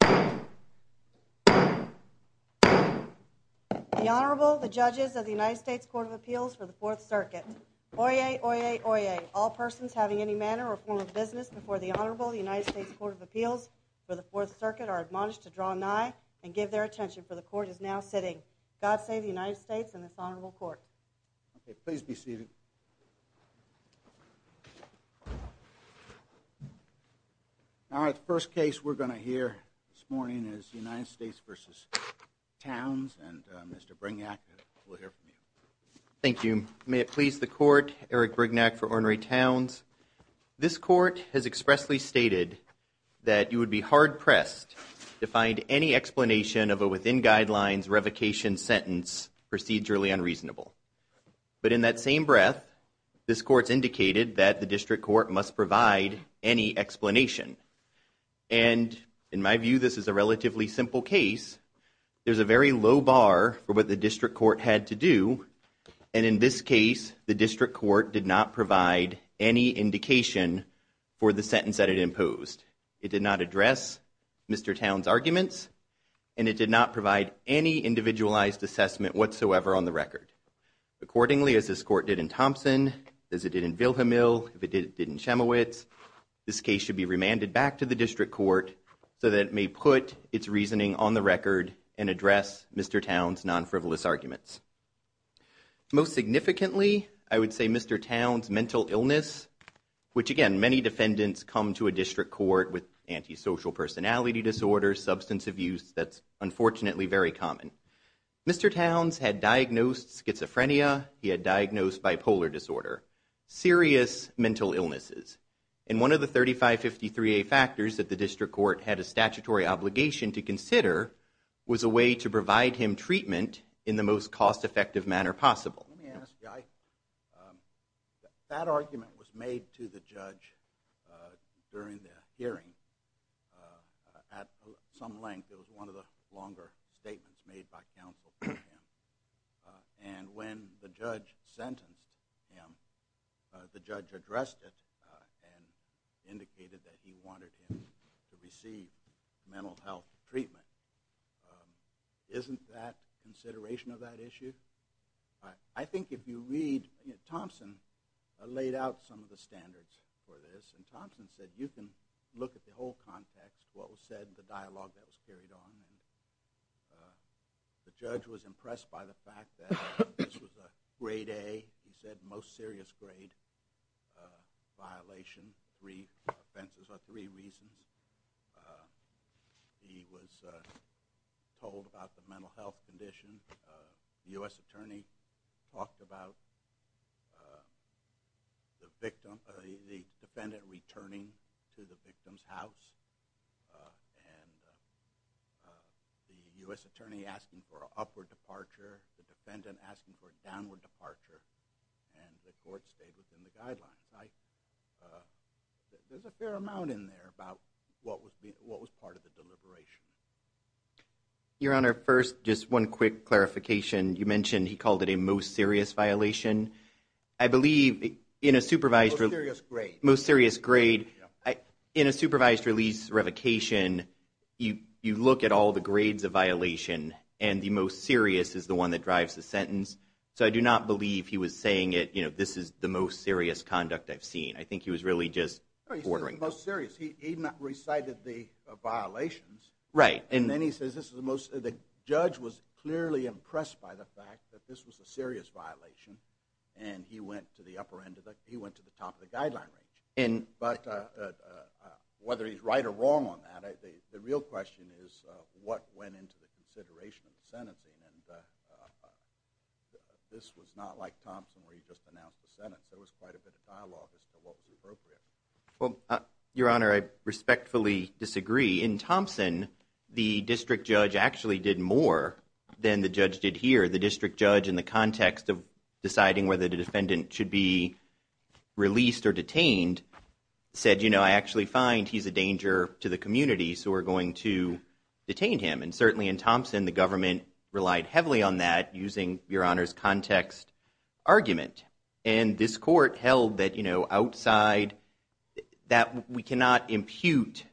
The Honorable, the Judges of the United States Court of Appeals for the Fourth Circuit. Oyez, oyez, oyez, all persons having any manner or form of business before the Honorable, the United States Court of Appeals for the Fourth Circuit are admonished to draw nigh and give their attention, for the Court is now sitting. God save the United States and this Honorable Court. Okay, please be seated. All right, the first case we're going to hear this morning is United States v. Townes and Mr. Brignac will hear from you. Thank you. May it please the Court, Eric Brignac for Onrey Townes. This Court has expressly stated that you would be hard-pressed to find any explanation of But in that same breath, this Court's indicated that the District Court must provide any explanation. And in my view, this is a relatively simple case. There's a very low bar for what the District Court had to do. And in this case, the District Court did not provide any indication for the sentence that it imposed. It did not address Mr. Townes' arguments and it did not provide any individualized assessment whatsoever on the record. Accordingly, as this Court did in Thompson, as it did in Vilhemil, as it did in Chemowitz, this case should be remanded back to the District Court so that it may put its reasoning on the record and address Mr. Townes' non-frivolous arguments. Most significantly, I would say Mr. Townes' mental illness, which again, many defendants come to a District Court with antisocial personality disorders, substance abuse, that's unfortunately very common. Mr. Townes had diagnosed schizophrenia, he had diagnosed bipolar disorder, serious mental illnesses. And one of the 3553A factors that the District Court had a statutory obligation to consider was a way to provide him treatment in the most cost-effective manner possible. Let me ask, Guy, that argument was made to the judge during the hearing at some length. It was one of the longer statements made by counsel for him. And when the judge sentenced him, the judge addressed it and indicated that he wanted him to receive mental health treatment. Isn't that consideration of that issue? I think if you read, Thompson laid out some of the standards for this. And Thompson said, you can look at the whole context, what was said, the dialogue that was carried on. The judge was impressed by the fact that this was a grade A, he said most serious grade, violation, three offenses or three reasons. He was told about the mental health condition. The U.S. attorney talked about the defendant returning to the victim's house. And the U.S. attorney asking for an upward departure, the defendant asking for a downward departure, and the court stayed within the guidelines. There's a fair amount in there about what was part of the deliberation. Your Honor, first, just one quick clarification. You mentioned he called it a most serious violation. I believe in a supervised release. Most serious grade. Most serious grade. In a supervised release revocation, you look at all the grades of violation, and the most serious is the one that drives the sentence. So I do not believe he was saying it, you know, this is the most serious conduct I've seen. I think he was really just ordering. He recited the violations. Right. And then he says this is the most, the judge was clearly impressed by the fact that this was a serious violation, and he went to the upper end, he went to the top of the guideline range. But whether he's right or wrong on that, the real question is what went into the consideration of the sentencing, and this was not like Thompson where he just announced the sentence. There was quite a bit of dialogue as to what was appropriate. Well, Your Honor, I respectfully disagree. In Thompson, the district judge actually did more than the judge did here. The district judge in the context of deciding whether the defendant should be released or detained said, you know, I actually find he's a danger to the community, so we're going to detain him. And certainly in Thompson, the government relied heavily on that using Your Honor's context argument. And this court held that, you know, outside, that we cannot impute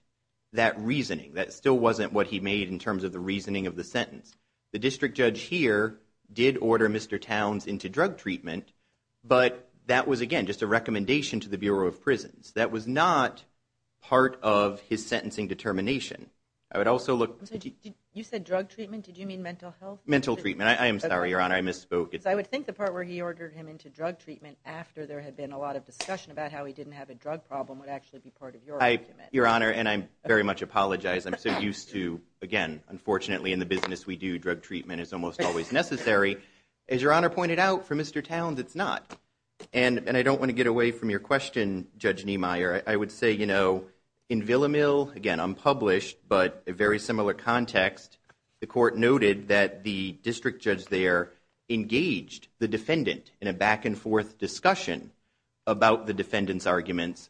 that reasoning. That still wasn't what he made in terms of the reasoning of the sentence. The district judge here did order Mr. Towns into drug treatment, but that was, again, just a recommendation to the Bureau of Prisons. That was not part of his sentencing determination. I would also look. You said drug treatment? Did you mean mental health? Mental treatment. I am sorry, Your Honor. I misspoke. I would think the part where he ordered him into drug treatment after there had been a lot of discussion about how he didn't have a drug problem would actually be part of your argument. Your Honor, and I very much apologize. I'm so used to, again, unfortunately in the business we do, drug treatment is almost always necessary. As Your Honor pointed out, for Mr. Towns, it's not. And I don't want to get away from your question, Judge Niemeyer. I would say, you know, in Villamil, again, unpublished, but a very similar context, the court noted that the district judge there engaged the defendant in a back-and-forth discussion about the defendant's arguments.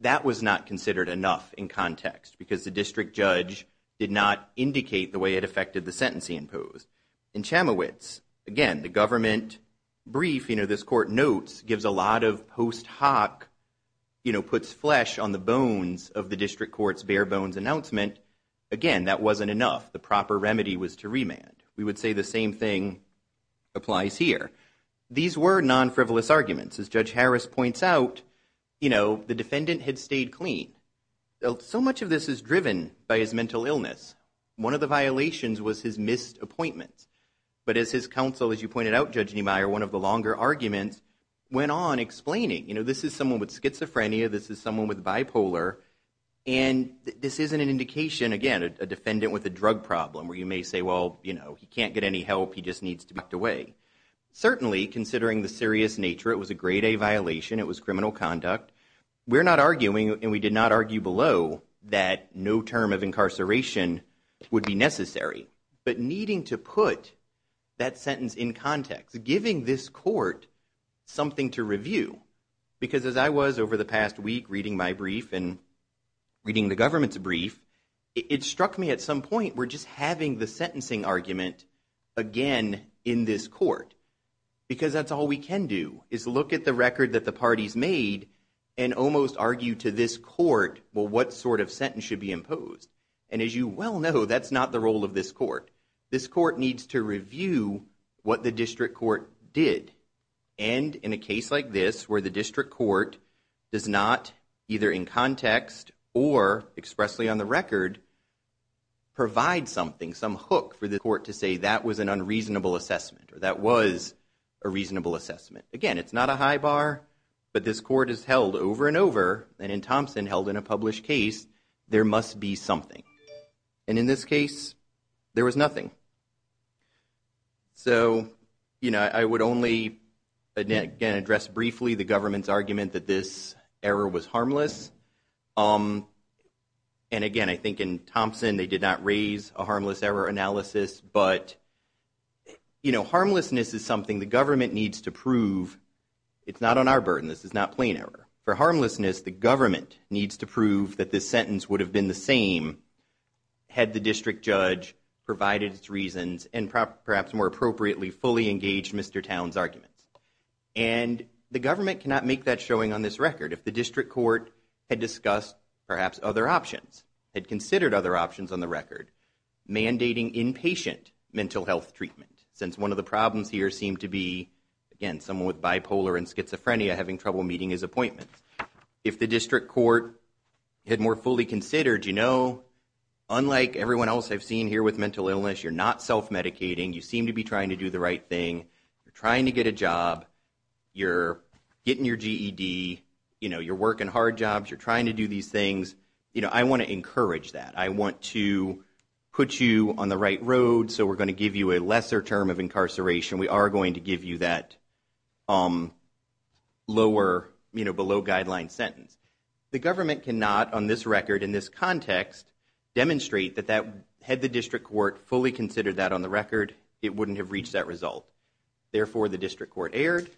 That was not considered enough in context because the district judge did not indicate the way it affected the sentence he imposed. In Chamowitz, again, the government brief, you know, this court notes, gives a lot of post hoc, you know, puts flesh on the bones of the district court's bare bones announcement. Again, that wasn't enough. The proper remedy was to remand. We would say the same thing applies here. These were non-frivolous arguments. As Judge Harris points out, you know, the defendant had stayed clean. So much of this is driven by his mental illness. One of the violations was his missed appointments. But as his counsel, as you pointed out, Judge Niemeyer, one of the longer arguments went on explaining, you know, this is someone with schizophrenia, this is someone with bipolar, and this isn't an indication, again, a defendant with a drug problem where you may say, well, you know, he can't get any help. He just needs to be tucked away. Certainly, considering the serious nature, it was a Grade A violation. It was criminal conduct. We're not arguing, and we did not argue below, that no term of incarceration would be necessary. giving this court something to review, because as I was over the past week reading my brief and reading the government's brief, it struck me at some point we're just having the sentencing argument again in this court. Because that's all we can do is look at the record that the parties made and almost argue to this court, well, what sort of sentence should be imposed. And as you well know, that's not the role of this court. This court needs to review what the district court did. And in a case like this where the district court does not, either in context or expressly on the record, provide something, some hook for the court to say that was an unreasonable assessment or that was a reasonable assessment. Again, it's not a high bar, but this court has held over and over, and in Thompson held in a published case, there must be something. And in this case, there was nothing. So, you know, I would only, again, address briefly the government's argument that this error was harmless. And again, I think in Thompson they did not raise a harmless error analysis, but, you know, harmlessness is something the government needs to prove. It's not on our burden. This is not plain error. For harmlessness, the government needs to prove that this sentence would have been the same had the district judge provided its reasons and perhaps more appropriately fully engaged Mr. Town's arguments. And the government cannot make that showing on this record. If the district court had discussed perhaps other options, had considered other options on the record, mandating inpatient mental health treatment, since one of the problems here seemed to be, again, someone with bipolar and schizophrenia having trouble meeting his appointments. If the district court had more fully considered, you know, unlike everyone else I've seen here with mental illness, you're not self-medicating. You seem to be trying to do the right thing. You're trying to get a job. You're getting your GED. You know, you're working hard jobs. You're trying to do these things. You know, I want to encourage that. I want to put you on the right road, so we're going to give you a lesser term of incarceration. We are going to give you that lower, you know, below guideline sentence. The government cannot, on this record, in this context, demonstrate that had the district court fully considered that on the record, it wouldn't have reached that result. Therefore, the district court erred.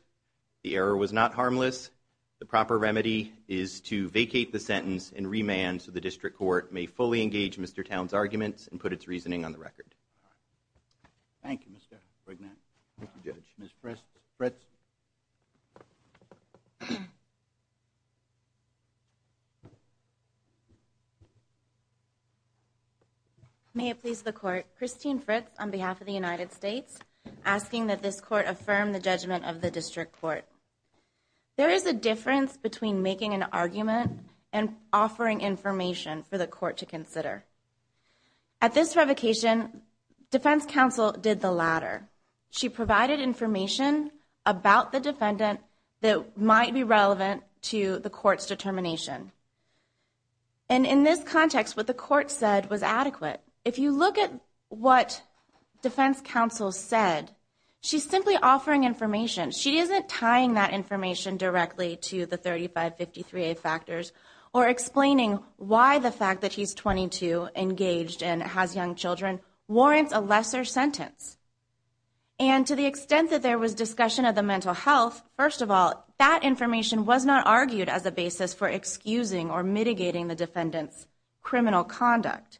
The error was not harmless. The proper remedy is to vacate the sentence and remand so the district court may fully engage Mr. Town's arguments and put its reasoning on the record. Thank you, Mr. Bregman. Judge, Ms. Fritz. May it please the court. Christine Fritz on behalf of the United States, asking that this court affirm the judgment of the district court. There is a difference between making an argument and offering information for the court to consider. At this revocation, defense counsel did the latter. She provided information about the defendant that might be relevant to the court's determination. And in this context, what the court said was adequate. If you look at what defense counsel said, she's simply offering information. She isn't tying that information directly to the 3553A factors or explaining why the fact that he's 22, engaged, and has young children warrants a lesser sentence. And to the extent that there was discussion of the mental health, first of all, that information was not argued as a basis for excusing or mitigating the defendant's criminal conduct.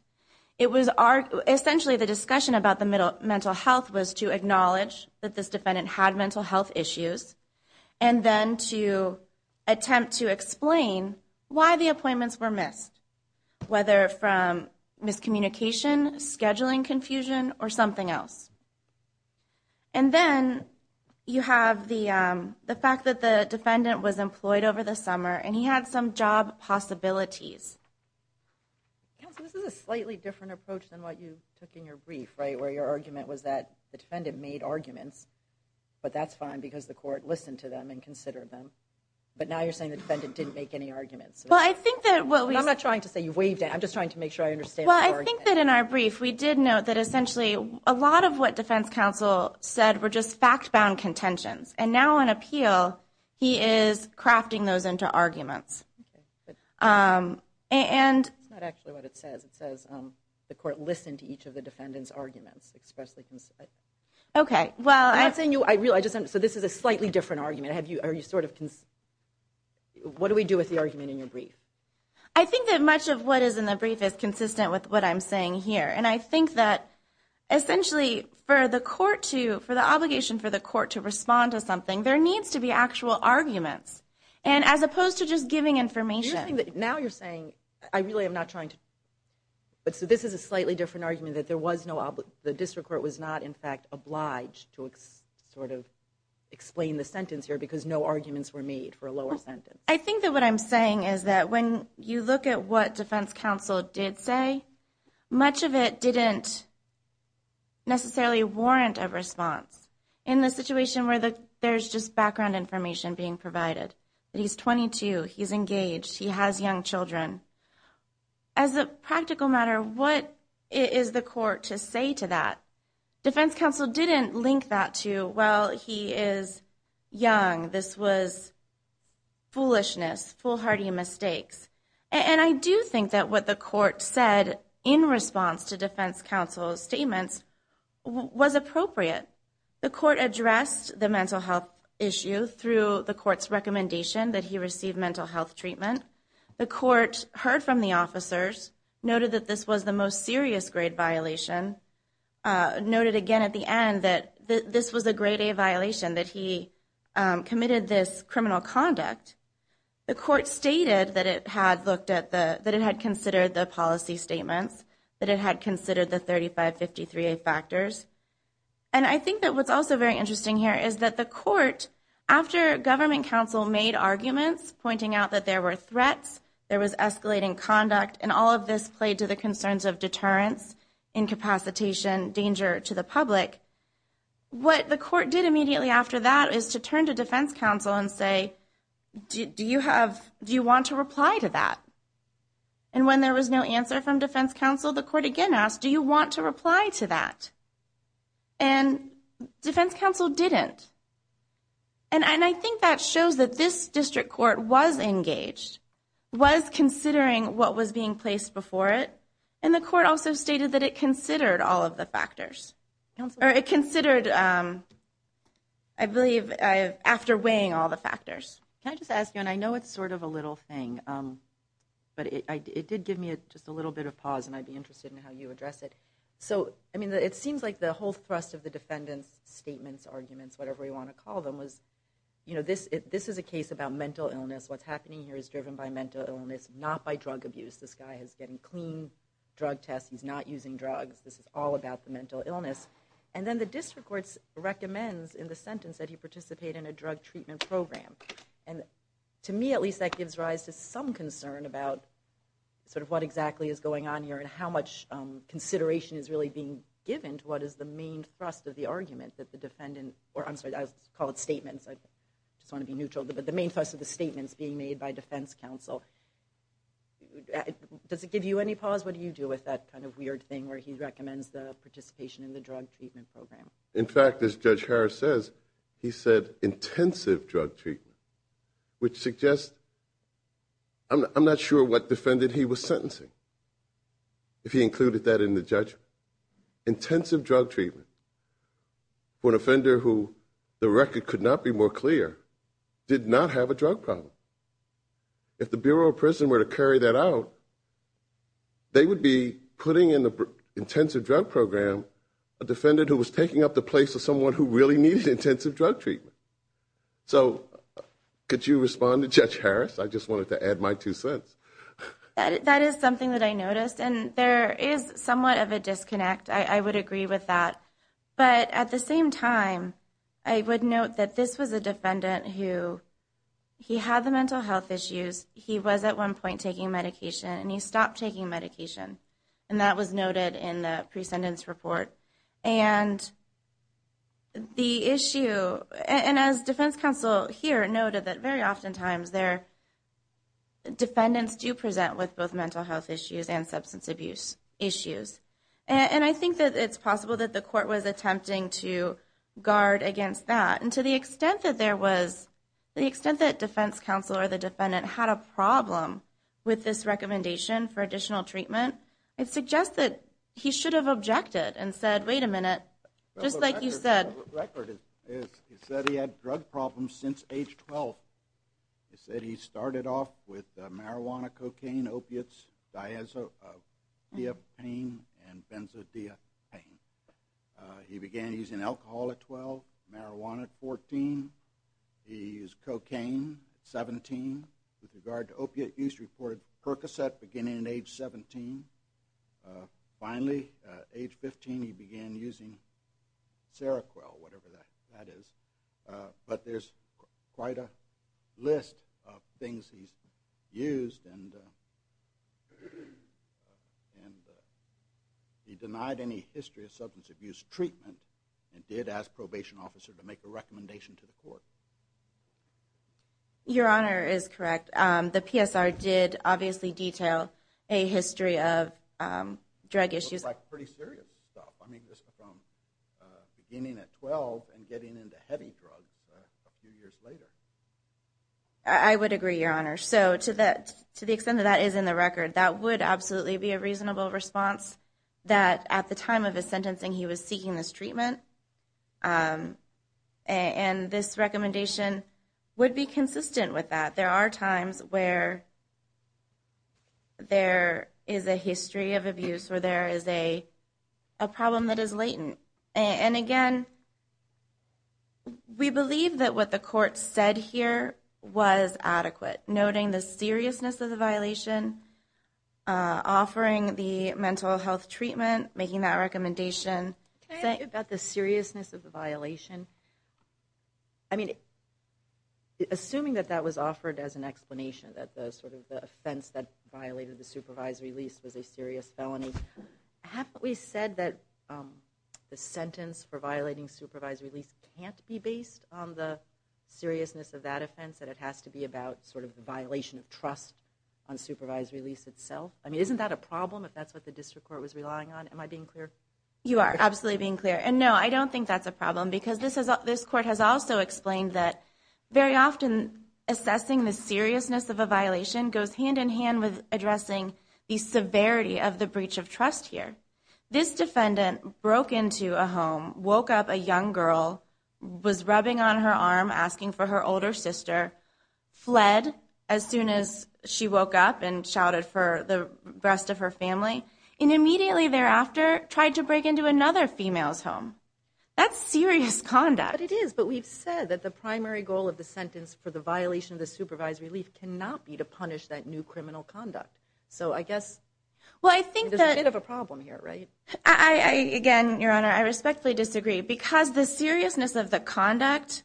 Essentially, the discussion about the mental health was to acknowledge that this defendant had mental health issues and then to attempt to explain why the appointments were missed, whether from miscommunication, scheduling confusion, or something else. And then you have the fact that the defendant was employed over the summer and he had some job possibilities. Counsel, this is a slightly different approach than what you took in your brief, right, where your argument was that the defendant made arguments, but that's fine because the court listened to them and considered them. But now you're saying the defendant didn't make any arguments. Well, I think that what we... I'm not trying to say you waived it. I'm just trying to make sure I understand the argument. Well, I think that in our brief, we did note that essentially a lot of what defense counsel said were just fact-bound contentions. And now in appeal, he is crafting those into arguments. Okay, good. And... That's not actually what it says. It says the court listened to each of the defendant's arguments, expressly considered. Okay, well... I'm not saying you... So this is a slightly different argument. Are you sort of... What do we do with the argument in your brief? I think that much of what is in the brief is consistent with what I'm saying here. And I think that essentially for the court to... for the obligation for the court to respond to something, there needs to be actual arguments, as opposed to just giving information. Now you're saying... I really am not trying to... So this is a slightly different argument that there was no... The district court was not, in fact, obliged to sort of explain the sentence here because no arguments were made for a lower sentence. I think that what I'm saying is that when you look at what defense counsel did say, much of it didn't necessarily warrant a response. In the situation where there's just background information being provided, that he's 22, he's engaged, he has young children, as a practical matter, what is the court to say to that? Defense counsel didn't link that to, well, he is young, this was foolishness, foolhardy mistakes. And I do think that what the court said in response to defense counsel's statements was appropriate. The court addressed the mental health issue through the court's recommendation that he receive mental health treatment. The court heard from the officers, noted that this was the most serious grade violation, noted again at the end that this was a grade A violation, that he committed this criminal conduct. The court stated that it had considered the policy statements, that it had considered the 3553A factors. And I think that what's also very interesting here is that the court, after government counsel made arguments pointing out that there were threats, there was escalating conduct, and all of this played to the concerns of deterrence, incapacitation, danger to the public, what the court did immediately after that is to turn to defense counsel and say, do you want to reply to that? And when there was no answer from defense counsel, the court again asked, do you want to reply to that? And defense counsel didn't. And I think that shows that this district court was engaged, was considering what was being placed before it, and the court also stated that it considered all of the factors. It considered, I believe, after weighing all the factors. Can I just ask you, and I know it's sort of a little thing, but it did give me just a little bit of pause, and I'd be interested in how you address it. It seems like the whole thrust of the defendant's statements, arguments, whatever you want to call them, was this is a case about mental illness. What's happening here is driven by mental illness, not by drug abuse. This guy is getting clean drug tests. He's not using drugs. This is all about the mental illness. And then the district court recommends in the sentence that he participate in a drug treatment program. And to me, at least, that gives rise to some concern about what exactly is going on here and how much consideration is really being given to what is the main thrust of the argument that the defendant, or I'm sorry, I'll call it statements. I just want to be neutral. But the main thrust of the statement is being made by defense counsel. Does it give you any pause? What do you do with that kind of weird thing where he recommends the participation in the drug treatment program? In fact, as Judge Harris says, he said intensive drug treatment, which suggests I'm not sure what defendant he was sentencing, if he included that in the judgment. Intensive drug treatment for an offender who the record could not be more clear, did not have a drug problem. If the Bureau of Prison were to carry that out, they would be putting in the intensive drug program a defendant who was taking up the place of someone who really needed intensive drug treatment. So could you respond to Judge Harris? I just wanted to add my two cents. That is something that I noticed. And there is somewhat of a disconnect. I would agree with that. But at the same time, I would note that this was a defendant who he had the mental health issues. He was at one point taking medication, and he stopped taking medication. And that was noted in the presentence report. And the issue, and as defense counsel here noted, that very oftentimes defendants do present with both mental health issues and substance abuse issues. And I think that it's possible that the court was attempting to guard against that. And to the extent that defense counsel or the defendant had a problem with this recommendation for additional treatment, I suggest that he should have objected and said, wait a minute, just like you said. The record is he said he had drug problems since age 12. He said he started off with marijuana, cocaine, opiates, diazepam, and benzodiazepine. He began using alcohol at 12, marijuana at 14. He used cocaine at 17. With regard to opiate use, he reported Percocet beginning at age 17. Finally, age 15, he began using Seroquel, whatever that is. But there's quite a list of things he's used, and he denied any history of substance abuse treatment and did ask a probation officer to make a recommendation to the court. Your Honor is correct. The PSR did obviously detail a history of drug issues. It looks like pretty serious stuff. I mean, this is from beginning at 12 and getting into heavy drugs a few years later. I would agree, Your Honor. So to the extent that that is in the record, that would absolutely be a reasonable response that at the time of his sentencing he was seeking this treatment. And this recommendation would be consistent with that. There are times where there is a history of abuse, where there is a problem that is latent. And again, we believe that what the court said here was adequate, noting the seriousness of the violation, offering the mental health treatment, making that recommendation. Can I ask you about the seriousness of the violation? I mean, assuming that that was offered as an explanation, that the sort of offense that violated the supervisory lease was a serious felony, haven't we said that the sentence for violating supervisory lease can't be based on the seriousness of that offense, that it has to be about sort of the violation of trust on supervisory lease itself? I mean, isn't that a problem if that's what the district court was relying on? Am I being clear? You are absolutely being clear. And no, I don't think that's a problem because this court has also explained that very often assessing the seriousness of a violation goes hand in hand with addressing the severity of the breach of trust here. This defendant broke into a home, woke up a young girl, was rubbing on her arm asking for her older sister, fled as soon as she woke up and shouted for the rest of her family, and immediately thereafter tried to break into another female's home. That's serious conduct. But it is. But we've said that the primary goal of the sentence for the violation of the supervisory lease cannot be to punish that new criminal conduct. So I guess there's a bit of a problem here, right? Again, Your Honor, I respectfully disagree. Because the seriousness of the conduct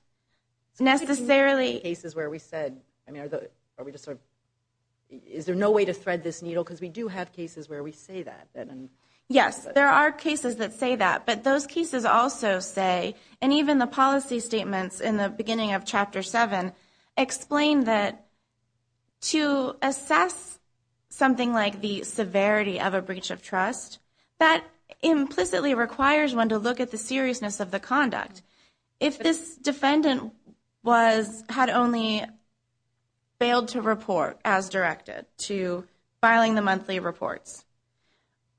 necessarily – In cases where we said – I mean, are we just sort of – is there no way to thread this needle? Because we do have cases where we say that. Yes, there are cases that say that. But those cases also say, and even the policy statements in the beginning of Chapter 7, explain that to assess something like the severity of a breach of trust, that implicitly requires one to look at the seriousness of the conduct. If this defendant had only failed to report as directed to filing the monthly reports,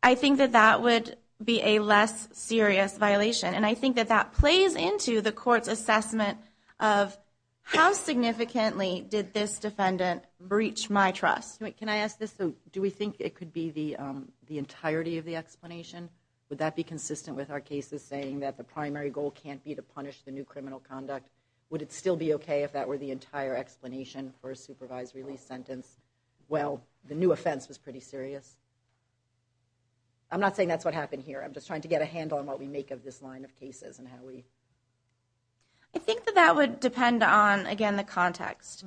I think that that would be a less serious violation. And I think that that plays into the court's assessment of how significantly did this defendant breach my trust. Can I ask this? Would that be consistent with our cases saying that the primary goal can't be to punish the new criminal conduct? Would it still be okay if that were the entire explanation for a supervisory lease sentence? Well, the new offense was pretty serious. I'm not saying that's what happened here. I'm just trying to get a handle on what we make of this line of cases and how we – I think that that would depend on, again, the context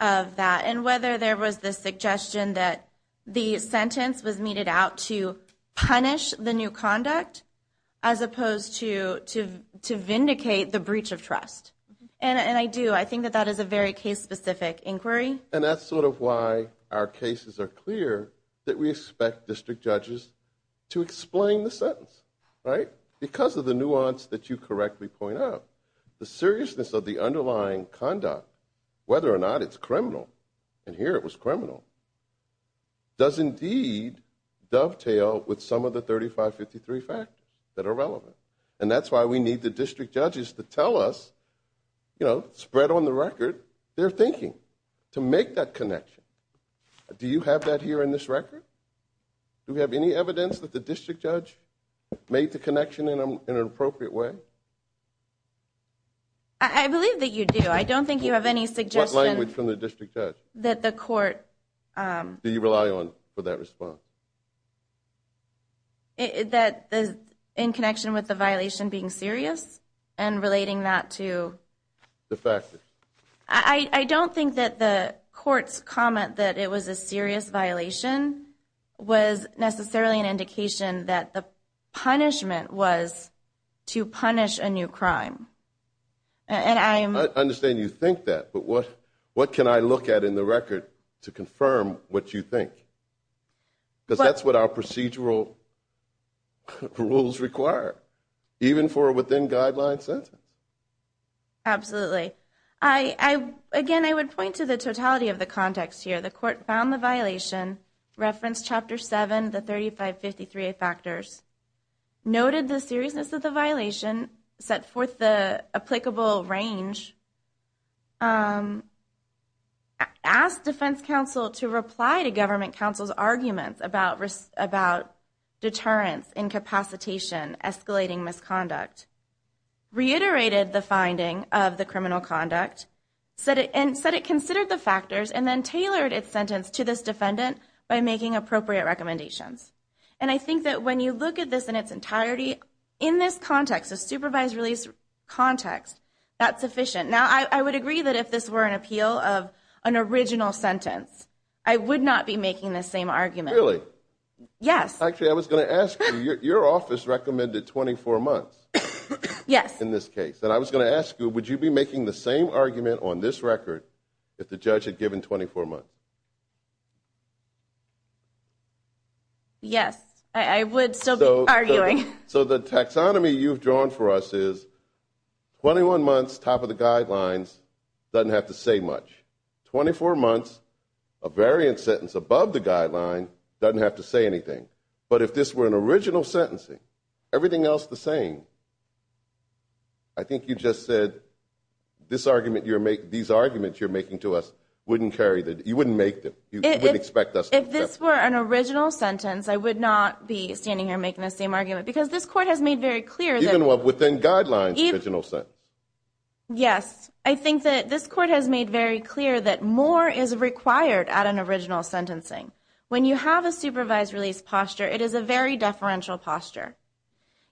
of that and whether there was the suggestion that the sentence was meted out to punish the new conduct as opposed to vindicate the breach of trust. And I do. I think that that is a very case-specific inquiry. And that's sort of why our cases are clear that we expect district judges to explain the sentence. Because of the nuance that you correctly point out, the seriousness of the underlying conduct, whether or not it's criminal, and here it was criminal, does indeed dovetail with some of the 3553 factors that are relevant. And that's why we need the district judges to tell us, spread on the record, their thinking to make that connection. Do you have that here in this record? Do we have any evidence that the district judge made the connection in an appropriate way? I believe that you do. I don't think you have any suggestion – What language from the district judge? That the court – Do you rely on for that response? That in connection with the violation being serious and relating that to – The factor. I don't think that the court's comment that it was a serious violation was necessarily an indication that the punishment was to punish a new crime. I understand you think that. But what can I look at in the record to confirm what you think? Because that's what our procedural rules require, even for a within-guideline sentence. Absolutely. Again, I would point to the totality of the context here. The court found the violation, referenced Chapter 7, the 3553 factors, noted the seriousness of the violation, set forth the applicable range, asked defense counsel to reply to government counsel's arguments about deterrence, incapacitation, escalating misconduct, reiterated the finding of the criminal conduct, and said it considered the factors and then tailored its sentence to this defendant by making appropriate recommendations. And I think that when you look at this in its entirety, in this context, a supervised release context, that's sufficient. Now, I would agree that if this were an appeal of an original sentence, I would not be making this same argument. Really? Yes. Actually, I was going to ask you, your office recommended 24 months in this case. Yes. And I was going to ask you, would you be making the same argument on this record if the judge had given 24 months? Yes, I would still be arguing. So the taxonomy you've drawn for us is 21 months, top of the guidelines, doesn't have to say much. 24 months, a variant sentence above the guideline, doesn't have to say anything. But if this were an original sentencing, everything else the same, I think you just said these arguments you're making to us wouldn't carry the – you wouldn't make them. You wouldn't expect us to accept them. If this were an original sentence, I would not be standing here making the same argument because this court has made very clear that – Even within guidelines, original sentence. Yes, I think that this court has made very clear that more is required at an original sentencing. When you have a supervised release posture, it is a very deferential posture.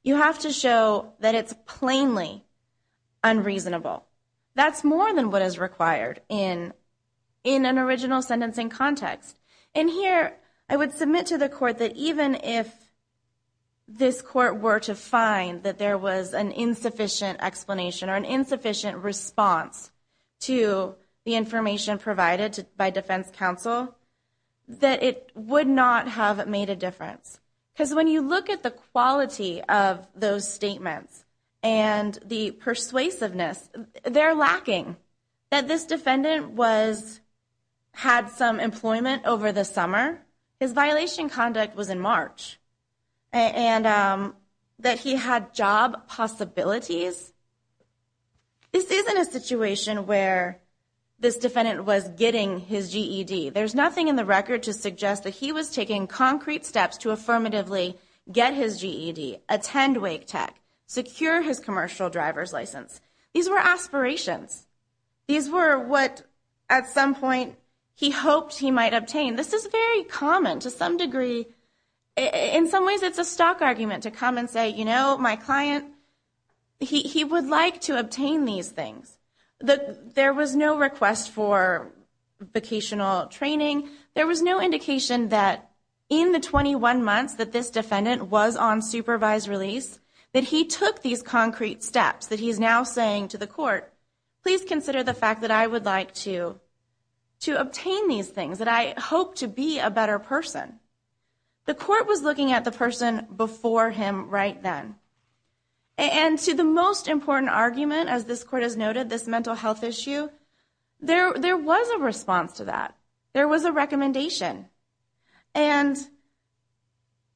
You have to show that it's plainly unreasonable. That's more than what is required in an original sentencing context. And here, I would submit to the court that even if this court were to find that there was an insufficient explanation or an insufficient response to the information provided by defense counsel, that it would not have made a difference. Because when you look at the quality of those statements and the persuasiveness, they're lacking. That this defendant had some employment over the summer. His violation conduct was in March. And that he had job possibilities. This isn't a situation where this defendant was getting his GED. There's nothing in the record to suggest that he was taking concrete steps to affirmatively get his GED, attend Wake Tech, secure his commercial driver's license. These were aspirations. These were what, at some point, he hoped he might obtain. This is very common to some degree. In some ways, it's a stock argument to come and say, you know, my client, he would like to obtain these things. There was no request for vocational training. There was no indication that in the 21 months that this defendant was on supervised release, that he took these concrete steps. That he's now saying to the court, please consider the fact that I would like to obtain these things. That I hope to be a better person. The court was looking at the person before him right then. And to the most important argument, as this court has noted, this mental health issue, there was a response to that. There was a recommendation. And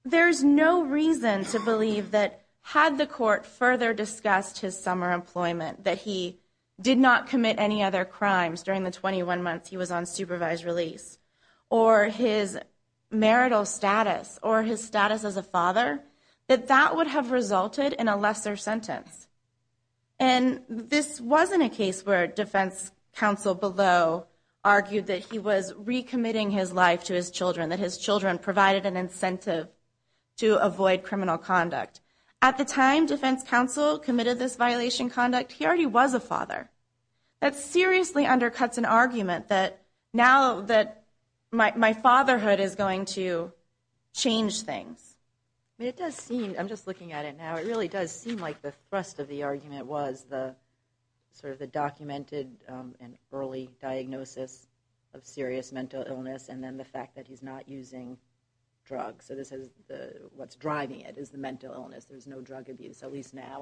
there's no reason to believe that had the court further discussed his summer employment, that he did not commit any other crimes during the 21 months he was on supervised release, or his marital status, or his status as a father, that that would have resulted in a lesser sentence. And this wasn't a case where defense counsel below argued that he was recommitting his life to his children, that his children provided an incentive to avoid criminal conduct. At the time defense counsel committed this violation conduct, he already was a father. That seriously undercuts an argument that now that my fatherhood is going to change things. I mean, it does seem, I'm just looking at it now, it really does seem like the thrust of the argument was sort of the documented and early diagnosis of serious mental illness, and then the fact that he's not using drugs. So this is what's driving it, is the mental illness. There's no drug abuse. At least now,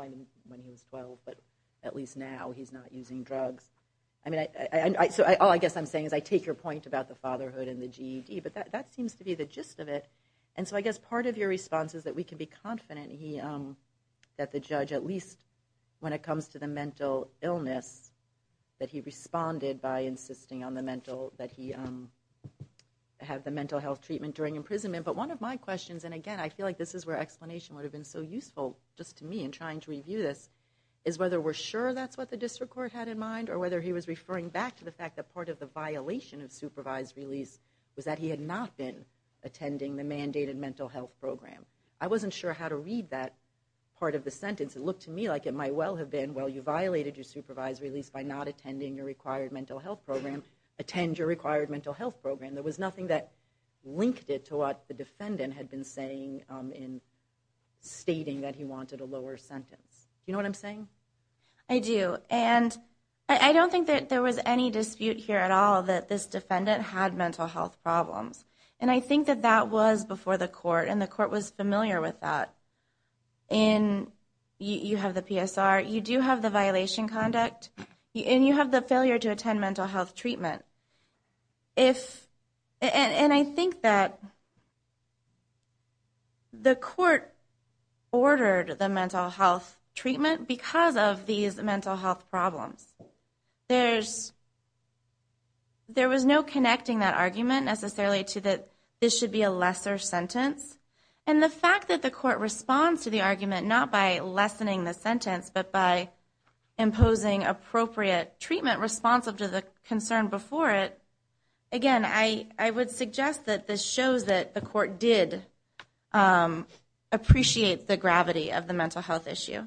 when he was 12, but at least now he's not using drugs. So all I guess I'm saying is I take your point about the fatherhood and the GED, but that seems to be the gist of it. And so I guess part of your response is that we can be confident that the judge, at least when it comes to the mental illness, that he responded by insisting that he have the mental health treatment during imprisonment. But one of my questions, and again, I feel like this is where explanation would have been so useful just to me in trying to review this, is whether we're sure that's what the district court had in mind, or whether he was referring back to the fact that part of the violation of supervised release was that he had not been attending the mandated mental health program. I wasn't sure how to read that part of the sentence. It looked to me like it might well have been, well, you violated your supervised release by not attending your required mental health program. Attend your required mental health program. There was nothing that linked it to what the defendant had been saying in stating that he wanted a lower sentence. Do you know what I'm saying? I do. And I don't think that there was any dispute here at all that this defendant had mental health problems. And I think that that was before the court, and the court was familiar with that. You have the PSR. You do have the violation conduct. And you have the failure to attend mental health treatment. And I think that the court ordered the mental health treatment because of these mental health problems. There was no connecting that argument necessarily to that this should be a lesser sentence. And the fact that the court responds to the argument not by lessening the sentence, but by imposing appropriate treatment responsive to the concern before it, again, I would suggest that this shows that the court did appreciate the gravity of the mental health issue.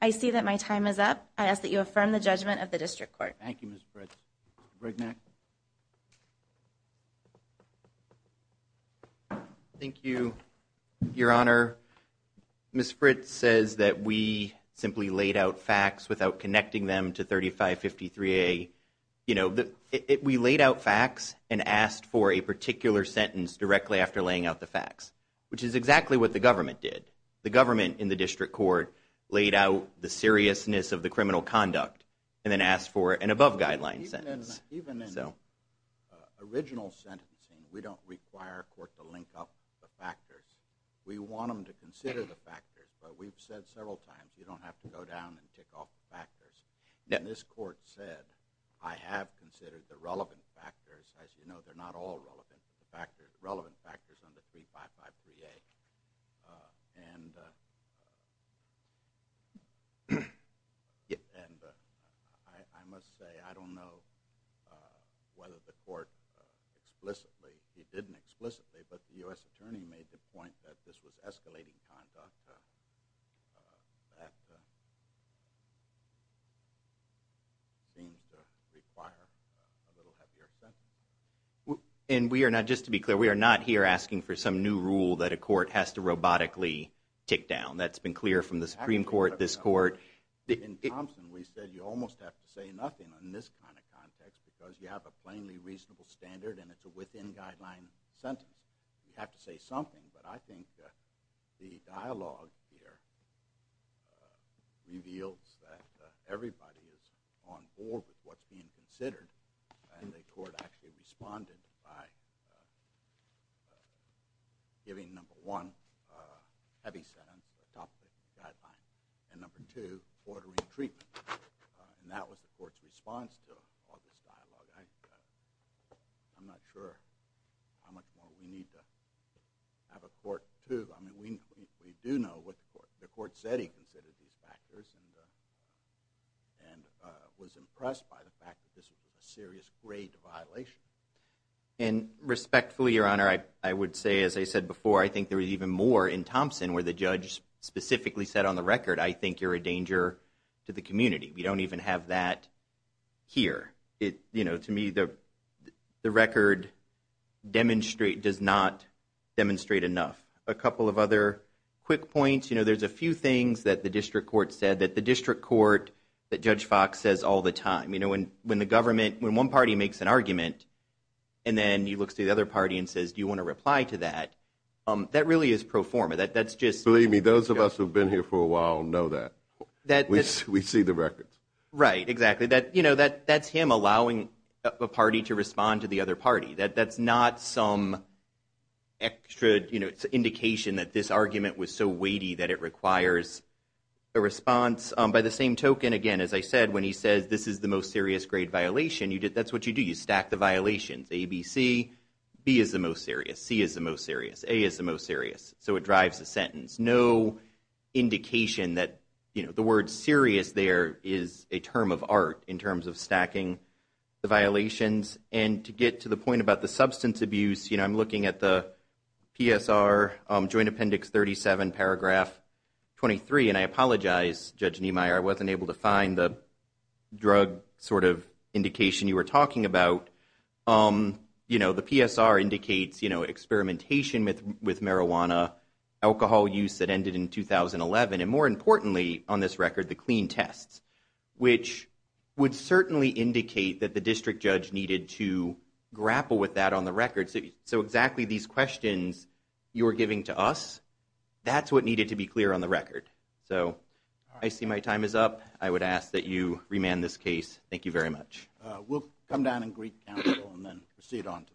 I see that my time is up. I ask that you affirm the judgment of the district court. Thank you, Ms. Fritz. Greg Mack. Thank you, Your Honor. Ms. Fritz says that we simply laid out facts without connecting them to 3553A. We laid out facts and asked for a particular sentence directly after laying out the facts, which is exactly what the government did. The government in the district court laid out the seriousness of the criminal conduct and then asked for an above guideline sentence. Even in original sentencing, we don't require a court to link up the factors. We want them to consider the factors. But we've said several times, you don't have to go down and tick off the factors. And this court said, I have considered the relevant factors. As you know, they're not all relevant, but the relevant factors on the 3553A. And I must say, I don't know whether the court explicitly, he didn't explicitly, but the U.S. attorney made the point that this was escalating conduct. That seems to require a little heavier sentence. And we are not, just to be clear, we are not here asking for some new rule that a court has to robotically tick down. That's been clear from the Supreme Court, this court. In Thompson, we said you almost have to say nothing in this kind of context because you have a plainly reasonable standard, and it's a within-guideline sentence. You have to say something. But I think the dialogue here reveals that everybody is on board with what's being considered. And the court actually responded by giving number one, heavy sentence, top of the guideline. And number two, ordering treatment. And that was the court's response to all this dialogue. I'm not sure how much more we need to have a court to. I mean, we do know what the court said he considered these factors and was impressed by the fact that this was a serious grade violation. And respectfully, Your Honor, I would say, as I said before, I think there was even more in Thompson where the judge specifically said on the record, I think you're a danger to the community. We don't even have that here. To me, the record does not demonstrate enough. A couple of other quick points. There's a few things that the district court said that the district court, that Judge Fox says all the time. When one party makes an argument and then he looks to the other party and says, do you want to reply to that, that really is pro forma. Believe me, those of us who have been here for a while know that. We see the records. Right, exactly. That's him allowing a party to respond to the other party. That's not some extra indication that this argument was so weighty that it requires a response. By the same token, again, as I said, when he says this is the most serious grade violation, that's what you do. You stack the violations. A, B, C. B is the most serious. C is the most serious. A is the most serious. So it drives the sentence. No indication that, you know, the word serious there is a term of art in terms of stacking the violations. And to get to the point about the substance abuse, you know, I'm looking at the PSR joint appendix, 37 paragraph 23. And I apologize, Judge Niemeyer, I wasn't able to find the drug sort of indication you were talking about. You know, the PSR indicates, you know, experimentation with, with marijuana, alcohol use that ended in 2011. And more importantly on this record, the clean tests, which would certainly indicate that the district judge needed to grapple with that on the record. So exactly these questions you're giving to us, that's what needed to be clear on the record. So I see my time is up. I would ask that you remand this case. Thank you very much. We'll come down and greet counsel and then proceed on to the next case. Thank you.